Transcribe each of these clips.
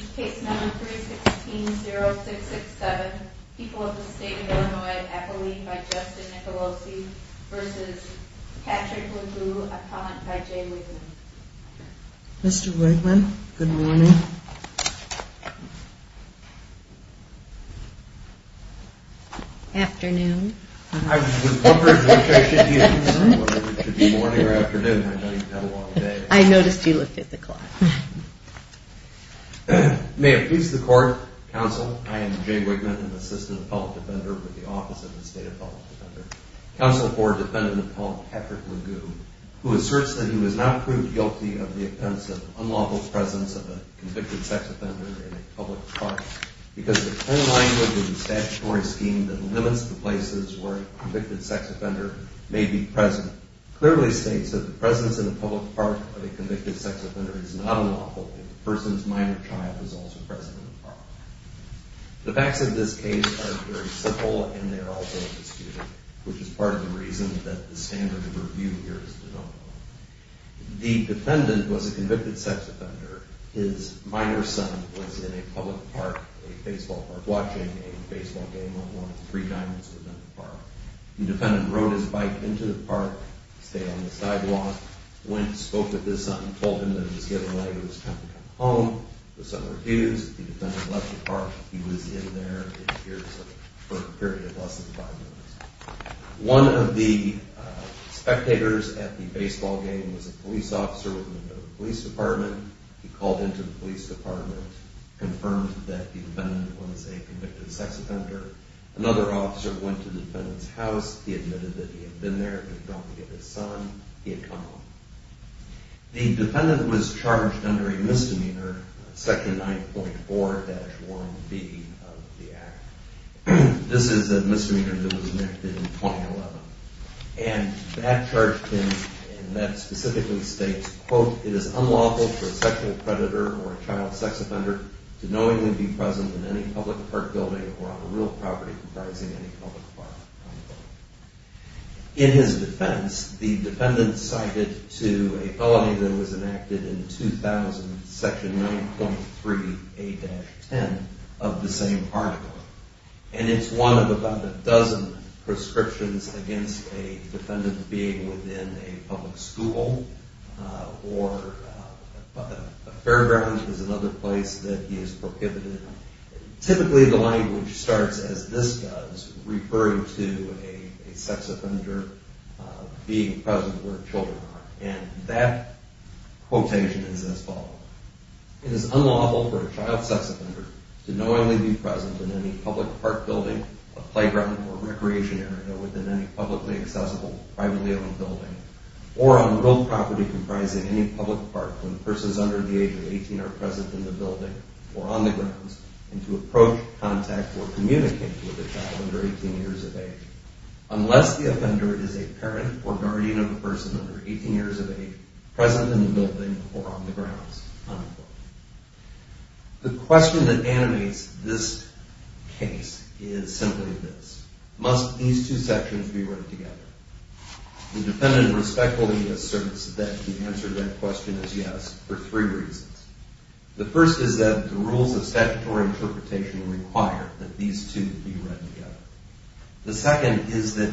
0667 people of the state of Illinois by Justin Nicolosi v. Patrick Legoo, upon by Jay Wigman. Mr. Wigman, good morning. Afternoon. I was May it please the court, counsel, I am Jay Wigman, an assistant public defender with the Office of the State of Public Defender. Counsel for defendant Paul Patrick Legoo, who asserts that he was not proved guilty of the offense of unlawful presence of a convicted sex offender in a public park because the plain language and statutory scheme that limits the places where a convicted sex offender may be present clearly states that the presence in a public park of a convicted sex offender is not unlawful if the person's minor child is also present in the park. The facts of this case are very simple and they are also indisputable, which is part of the reason that the standard of review here is developed. The defendant was a convicted sex offender. His minor son was in a public park, a baseball park, watching a baseball game when one of the three diamonds was in the park. The defendant spoke with his son and told him that it was getting late, it was time to come home. The son refused. The defendant left the park. He was in there for a period of less than five minutes. One of the spectators at the baseball game was a police officer with the Minnesota Police Department. He called into the police department, confirmed that the defendant was a convicted sex offender. Another officer went to the defendant's house. He was charged under a misdemeanor, Section 9.4-1B of the Act. This is a misdemeanor that was enacted in 2011 and that charged him and that specifically states, quote, it is unlawful for a sexual predator or a child sex offender to knowingly be present in any public park building or on a real property that was enacted in 2000, Section 9.3A-10 of the same article. And it's one of about a dozen prescriptions against a defendant being within a public school or a fairground is another place that he is prohibited. Typically the language starts as this does, referring to a sex offender. And that quotation is as follows. It is unlawful for a child sex offender to knowingly be present in any public park building, a playground or recreation area within any publicly accessible, privately owned building or on real property comprising any public park when persons under the age of 18 are present in the building or on the grounds and to approach, contact or communicate with a child under 18 years of age. Unless the offender is a parent or child. The question that animates this case is simply this. Must these two sections be read together? The defendant respectfully asserts that the answer to that question is yes for three reasons. The first is that the rules of statutory interpretation require that these two be read together. The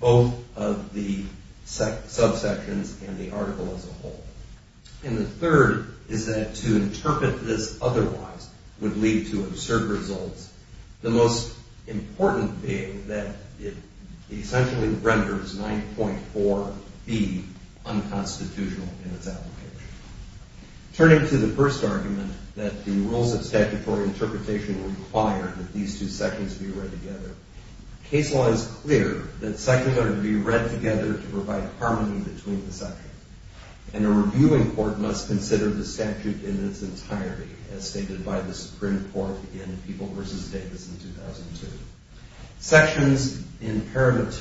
both of the subsections and the article as a whole. And the third is that to interpret this otherwise would lead to absurd results. The most important being that it essentially renders 9.4B unconstitutional in its application. Turning to the first argument that the rules of statutory interpretation require that these two sections be read together, case law is clear that sections ought to be read together to provide harmony between the sections. And a reviewing court must consider the statute in its entirety as stated by the Supreme Court in People v. Davis in 2002. Sections in each of the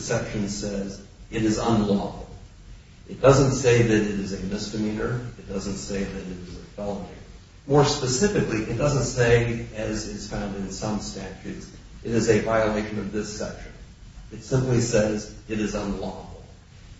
sections says it is unlawful. It doesn't say that it is a misdemeanor. It doesn't say that it is a felony. More specifically, it doesn't say, as is found in some statutes, it is a violation of this section. It simply says it is unlawful.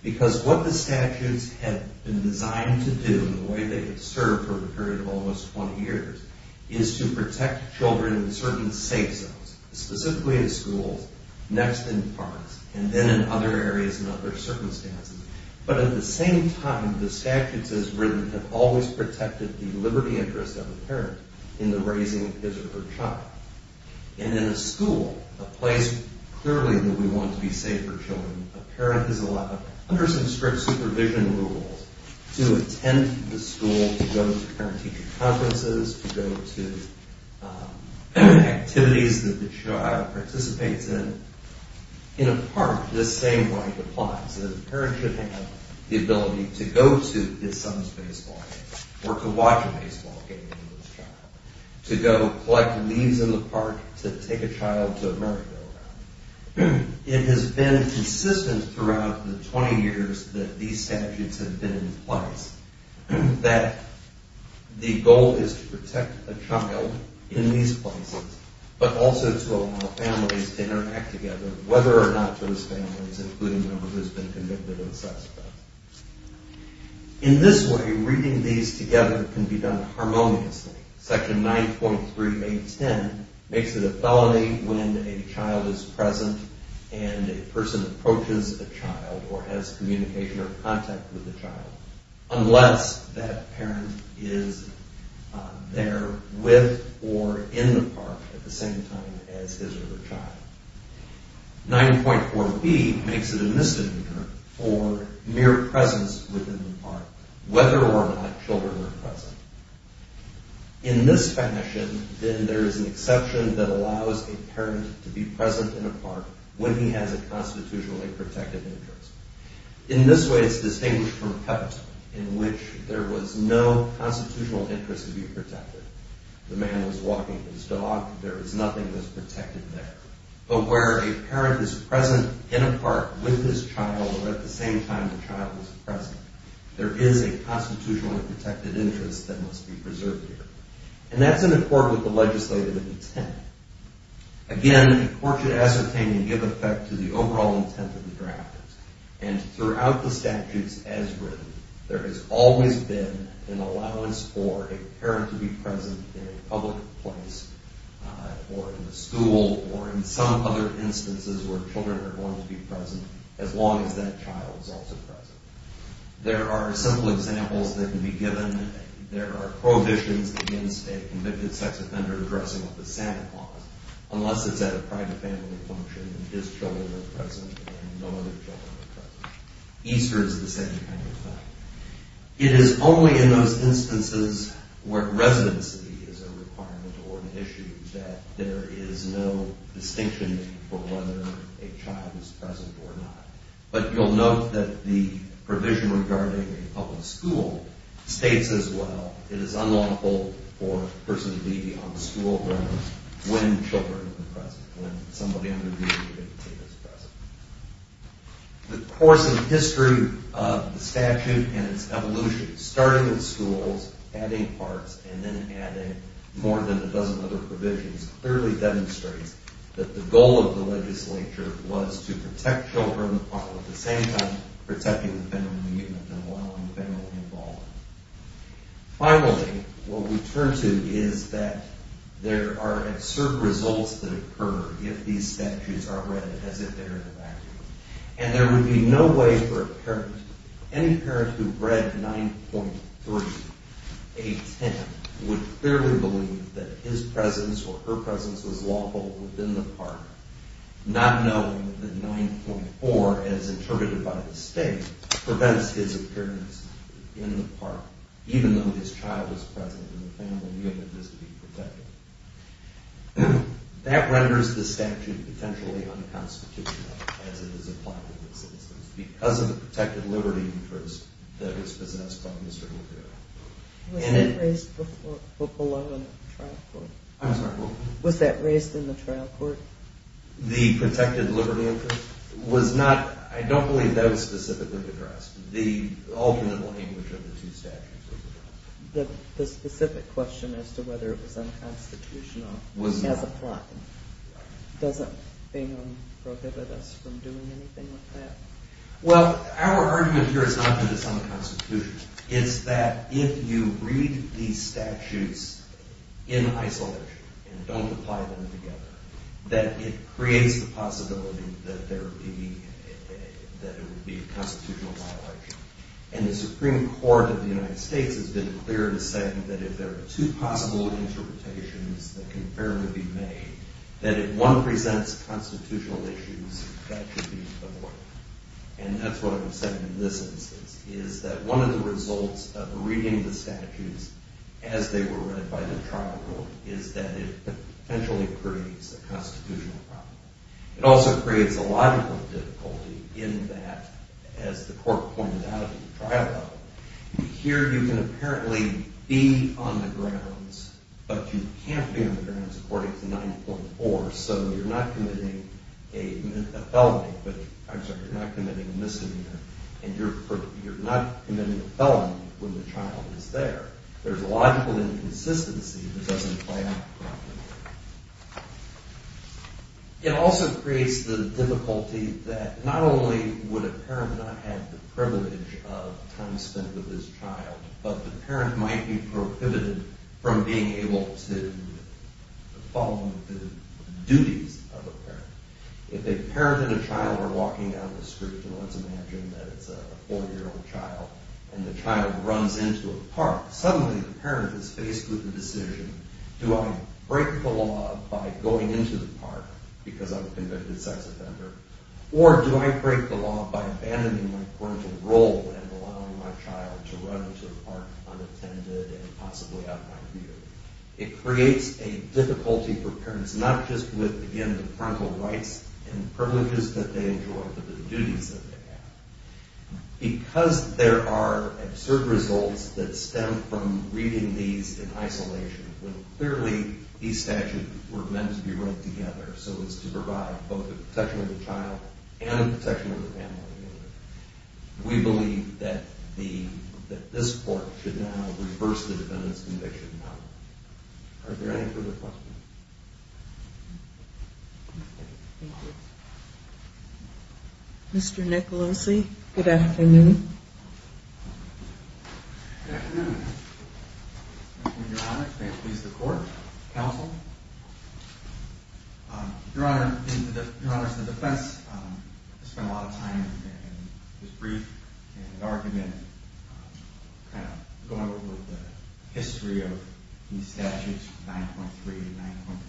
Because what the statutes have been designed to do in the way they have served for a period of almost 20 years is to protect children in certain safe zones, specifically in schools, next in parks, and then in other areas and other circumstances. But at the same time, the statutes as written have always protected the liberty interest of a parent in the raising of his or her child. And in a school, a place clearly that we want to be safe for children, a parent is allowed, under some strict supervision rules, to attend the school, to go to parenting conferences, to go to activities that the child participates in. In a park, this same right applies. A parent should have the ability to go to his son's baseball game or to watch a baseball game with his child, to go collect leaves in the park, to take a child to a merry-go-round. It has been consistent throughout the 20 years that these statutes have been in place that the goal is to protect a child in these places, but also to allow families to interact together, whether or not those families, including those who have been convicted of a sex offence. In this way, reading these together can be done harmoniously. Section 9.3.8.10 makes it a felony when a child is present and a person approaches a child or has communication or contact with a child, unless that parent is there with or in the park at the same time as his or her child. 9.4.b makes it a misdemeanor for mere presence within the park, whether or not children are present. In this fashion, then, there is an exception that allows a parent to be present in a park when he has a constitutionally protected interest. In this way, it's distinguished from PEPT, in which there was no constitutional interest to be protected. The man was walking his dog. There is nothing that's protected there. But where a parent is present in a park with his child or at the same time the child is present, there is a constitutionally protected interest that must be preserved there. And that's in accord with the legislative intent. Again, courts should ascertain and give effect to the overall intent of the drafters. And throughout the statutes as written, there has always been an allowance for a parent to be present in a public place or in a school or in some other instances where children are going to be present, as long as that child is also present. There are simple examples that can be given. There are prohibitions against a convicted sex offender dressing up as Santa Claus unless it's at a private family function and his children are present and no other children are present. Easter is the same kind of thing. It is only in those instances where residency is a requirement or an issue that there is no distinction for whether a child is present or not. But you'll note that the provision regarding a public school states as well, it is unlawful for a person to be on the school ground when children are present, when somebody under the age of 15 is present. The course and history of the statute and its evolution, starting with schools, adding parts, and then adding more than a dozen other provisions, clearly demonstrates that the goal of the legislature was to protect children while at the same time protecting the family unit and allowing the family involved. Finally, what we turn to is that there are certain results that occur if these statutes are read as if they were in a vacuum. And there would be no way for any parent who read 9.3A10 would clearly believe that his presence or her presence was lawful within the park, not knowing that 9.4, as interpreted by the state, prevents his appearance in the park, even though his child is present and the family unit is to be protected. That renders the statute potentially unconstitutional as it is applied to citizens because of the protected liberty interest that is possessed by Mr. Lucero. Was that raised in the trial court? The protected liberty interest? I don't believe that was specifically addressed. The ultimate language of the two statutes was addressed. The specific question as to whether it was unconstitutional was not. As applied. Doesn't Bingham prohibit us from doing anything with that? Well, our argument here is not that it's unconstitutional. It's that if you read these statutes in isolation and don't apply them together, that it creates the possibility that it would be a constitutional violation. And the Supreme Court of the United States has been clear in saying that if there are two possible interpretations that can fairly be made, that if one presents constitutional issues, that should be avoided. And that's what I'm saying in this instance, is that one of the results of reading the statutes as they were read by the trial court is that it potentially creates a constitutional problem. It also creates a logical difficulty in that, as the court pointed out in the trial level, here you can apparently be on the grounds, but you can't be on the grounds according to 9.4, so you're not committing a felony, I'm sorry, you're not committing a misdemeanor, and you're not committing a felony when the child is there. There's a logical inconsistency that doesn't play out properly. It also creates the difficulty that not only would a parent not have the privilege of time spent with his child, but the parent might be prohibited from being able to follow the duties of a parent. If a parent and a child are walking down the street, and let's imagine that it's a four-year-old child, and the child runs into a park, suddenly the parent is faced with the decision, do I break the law by going into the park because I'm a convicted sex offender, or do I break the law by abandoning my parental role and allowing my child to run into a park unattended and possibly out of my view? It creates a difficulty for parents, not just with, again, the parental rights and privileges that they enjoy, but the duties that they have. Because there are absurd results that stem from reading these in isolation, when clearly these statutes were meant to be written together so as to provide both a protection of the child and a protection of the family, we believe that this court should now reverse the defendant's conviction. Are there any further questions? Thank you. Mr. Nicolosi, good afternoon. Good afternoon. Your Honor, may it please the Court, counsel. Your Honor, the defense spent a lot of time and was brief in an argument kind of going over the history of these statutes, 9.3 and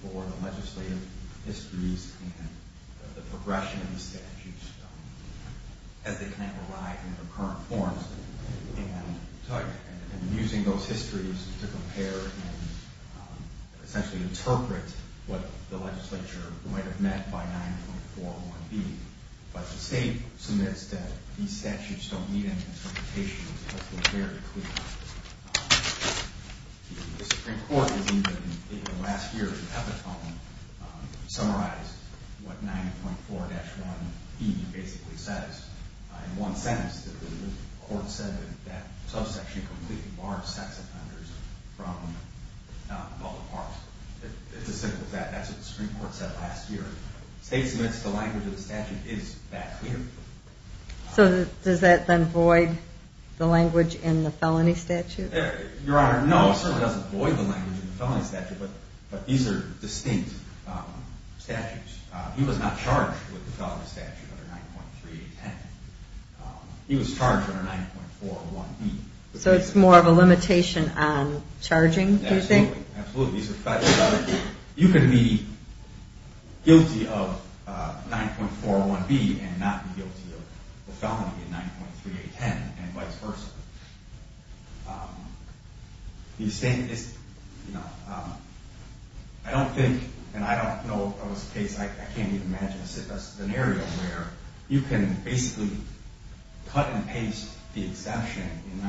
9.4, the legislative histories and the progression of the statutes as they kind of arrive in their current forms, and using those histories to compare and essentially interpret what the legislature might have meant by 9.4 and 1B. But the state submits that these statutes don't need any interpretation because they're very clear. The Supreme Court has even in the last year's epitome summarized what 9.4-1B basically says in one sentence. The court said that that subsection completely barred sex offenders from public parks. It's as simple as that. That's what the Supreme Court said last year. The state submits the language of the statute is that clear. So does that then void the language in the felony statute? Your Honor, no, it certainly doesn't void the language in the felony statute, but these are distinct statutes. He was not charged with the felony statute under 9.3-10. He was charged under 9.4-1B. So it's more of a limitation on charging, do you think? Absolutely, absolutely. You can be guilty of 9.4-1B and not be guilty of the felony in 9.3-10 and vice versa. I don't think, and I don't know if that was the case. I can't even imagine a scenario where you can basically cut and paste the exception in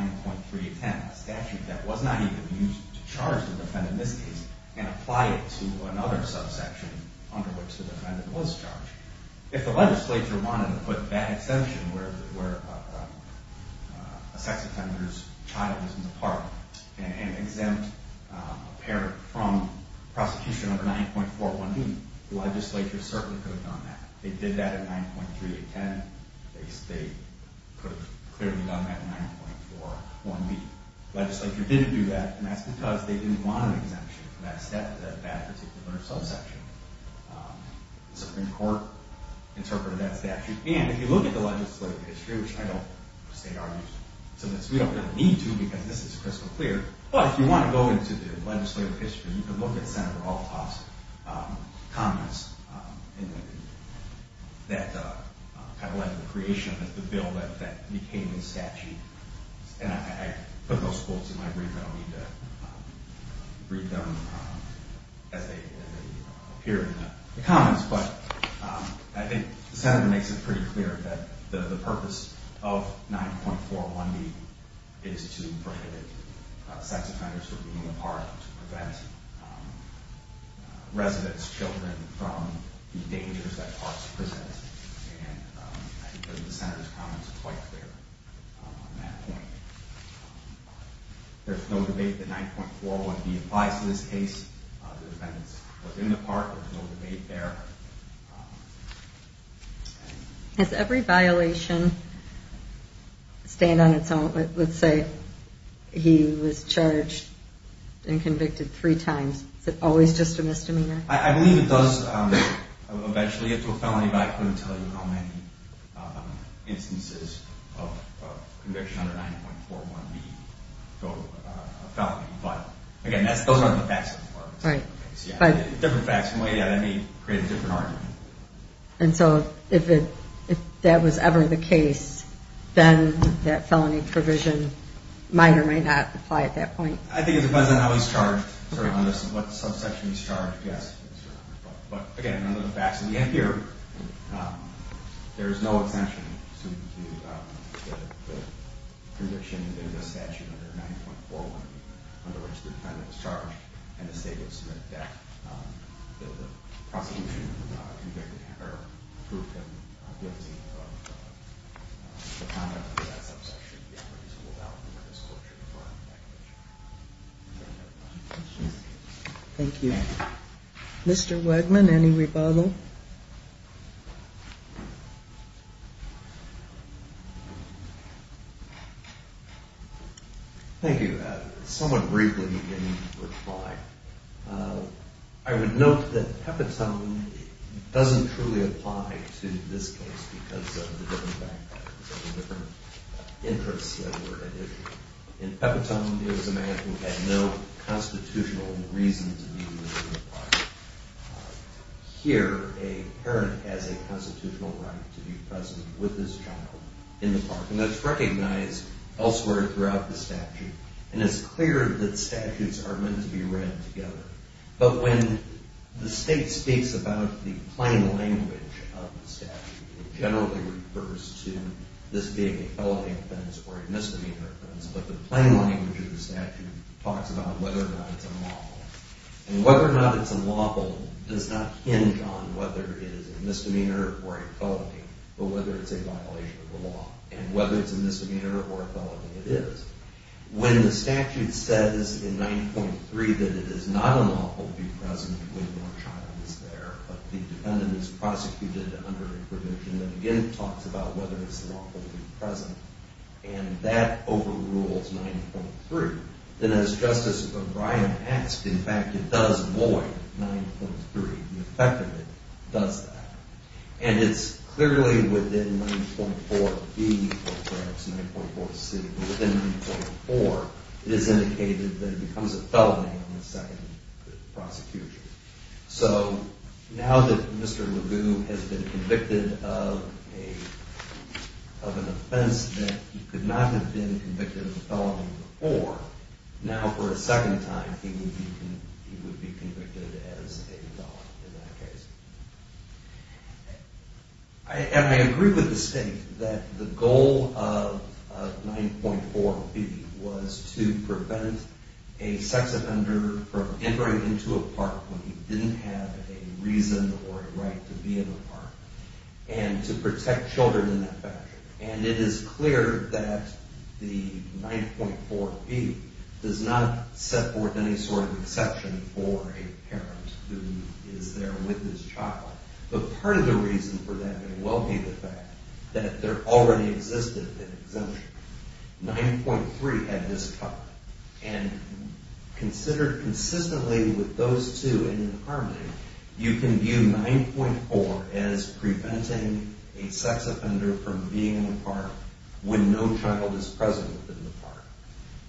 9.3-10, that statute that was not even used to charge the defendant in this case, and apply it to another subsection under which the defendant was charged. If the legislature wanted to put that exception where a sex offender's child is in the park and exempt a parent from prosecution under 9.4-1B, the legislature certainly could have done that. They did that in 9.3-10. They could have clearly done that in 9.4-1B. The legislature didn't do that, and that's because they didn't want an exemption for that statute, that particular subsection. The Supreme Court interpreted that statute. And if you look at the legislative history, which I don't state our use of this. We don't really need to because this is crystal clear. But if you want to go into the legislative history, you can look at Senator Althoff's comments that kind of led to the creation of the bill that became the statute. And I put those quotes in my brief. I don't need to read them as they appear in the comments. But I think the Senator makes it pretty clear that the purpose of 9.4-1B is to prohibit sex offenders from being in the park, to prevent residents, children, from the dangers that parks present. And I think the Senator's comments are quite clear on that point. There's no debate that 9.4-1B applies to this case. The defendants were in the park. There's no debate there. Has every violation stand on its own? Let's say he was charged and convicted three times. Is it always just a misdemeanor? I believe it does eventually get to a felony, but I couldn't tell you how many instances of conviction under 9.4-1B go to a felony. But, again, those aren't the facts of the park. Different facts can weigh you out. That may create a different argument. And so if that was ever the case, then that felony provision might or might not apply at that point. I think it depends on how he's charged, sort of on what subsection he's charged. But, again, none of the facts. And here, there is no exemption to the prediction that there's a statute under 9.4-1B where the defendant was charged and the state would submit that, that the prosecution approved him guilty of the conduct of that subsection. It would be unreasonable doubt that this court should affirm that conviction. Is there any other questions? Thank you. Mr. Wegman, any rebuttal? Thank you. Somewhat briefly in reply, I would note that Pepitone doesn't truly apply to this case because of the different factors, the different interests that were at issue. In Pepitone, it was a man who had no constitutional reason to be willing to comply. Here, a parent has a constitutional right to be present with his child in the park. And that's recognized elsewhere throughout the statute. And it's clear that statutes are meant to be read together. But when the state speaks about the plain language of the statute, it generally refers to this being a felony offense or a misdemeanor offense. But the plain language of the statute talks about whether or not it's unlawful. And whether or not it's unlawful does not hinge on whether it is a misdemeanor or a felony, but whether it's a violation of the law. And whether it's a misdemeanor or a felony, it is. When the statute says in 90.3 that it is not unlawful to be present when your child is there, but the defendant is prosecuted under a provision that again talks about whether it's unlawful to be present, and that overrules 90.3, then as Justice O'Brien asked, in fact, it does void 90.3. The effect of it does that. And it's clearly within 90.4B or perhaps 90.4C, but within 90.4 it is indicated that it becomes a felony on the second prosecution. So now that Mr. LeGue has been convicted of an offense that he could not have been convicted of a felony before, now for a second time he would be convicted as a felon in that case. And I agree with the state that the goal of 90.4B was to prevent a sex offender from entering into a park when he didn't have a reason or a right to be in a park, and to protect children in that fashion. And it is clear that the 90.4B does not set forth any sort of exception for a parent who is there with his child. But part of the reason for that may well be the fact that there already existed an exemption. 90.3 had this covered. And considered consistently with those two in harmony, you can view 90.4 as preventing a sex offender from being in a park when no child is present in the park.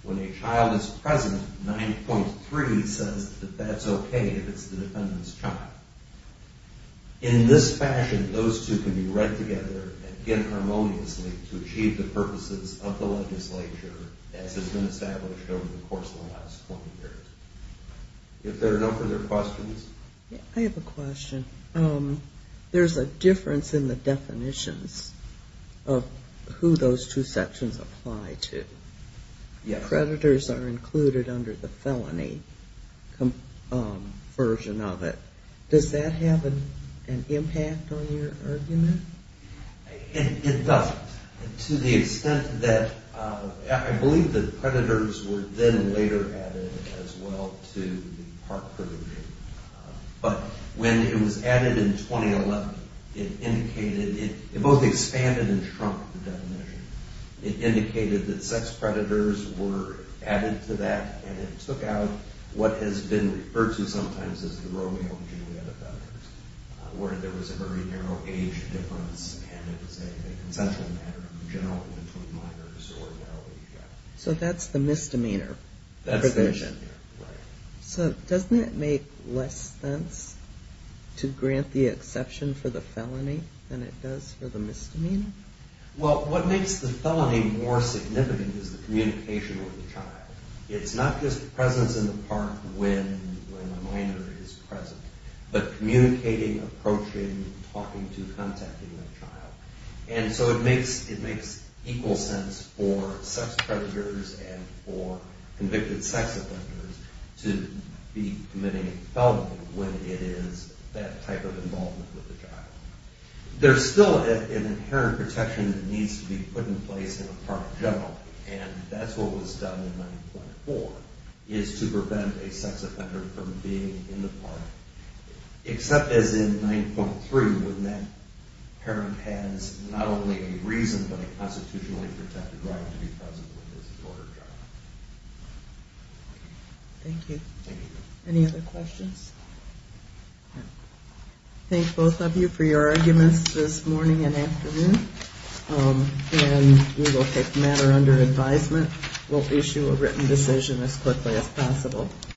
When a child is present, 90.3 says that that's okay if it's the defendant's child. In this fashion, those two can be read together again harmoniously to achieve the purposes of the legislature as has been established over the course of the last 20 years. If there are no further questions. I have a question. There's a difference in the definitions of who those two sections apply to. Predators are included under the felony version of it. Does that have an impact on your argument? It doesn't. To the extent that, I believe that predators were then later added as well to the park provision. But when it was added in 2011, it indicated, it both expanded and shrunk the definition. It indicated that sex predators were added to that and it took out what has been referred to sometimes as the Romeo and Juliet offenders. Where there was a very narrow age difference and it was a consensual matter in general between minors or adults. So that's the misdemeanor provision. That's the misdemeanor, right. So doesn't it make less sense to grant the exception for the felony than it does for the misdemeanor? Well, what makes the felony more significant is the communication with the child. It's not just presence in the park when a minor is present. But communicating, approaching, talking to, contacting that child. And so it makes equal sense for sex predators and for convicted sex offenders to be committing a felony when it is that type of involvement with the child. There's still an inherent protection that needs to be put in place in a park generally. And that's what was done in 9.4 is to prevent a sex offender from being in the park. Except as in 9.3 when that parent has not only a reason but a constitutionally protected right to be present when there's a murder trial. Thank you. Thank you. Any other questions? Thank both of you for your arguments this morning and afternoon. And we will take matter under advisement. We'll issue a written decision as quickly as possible.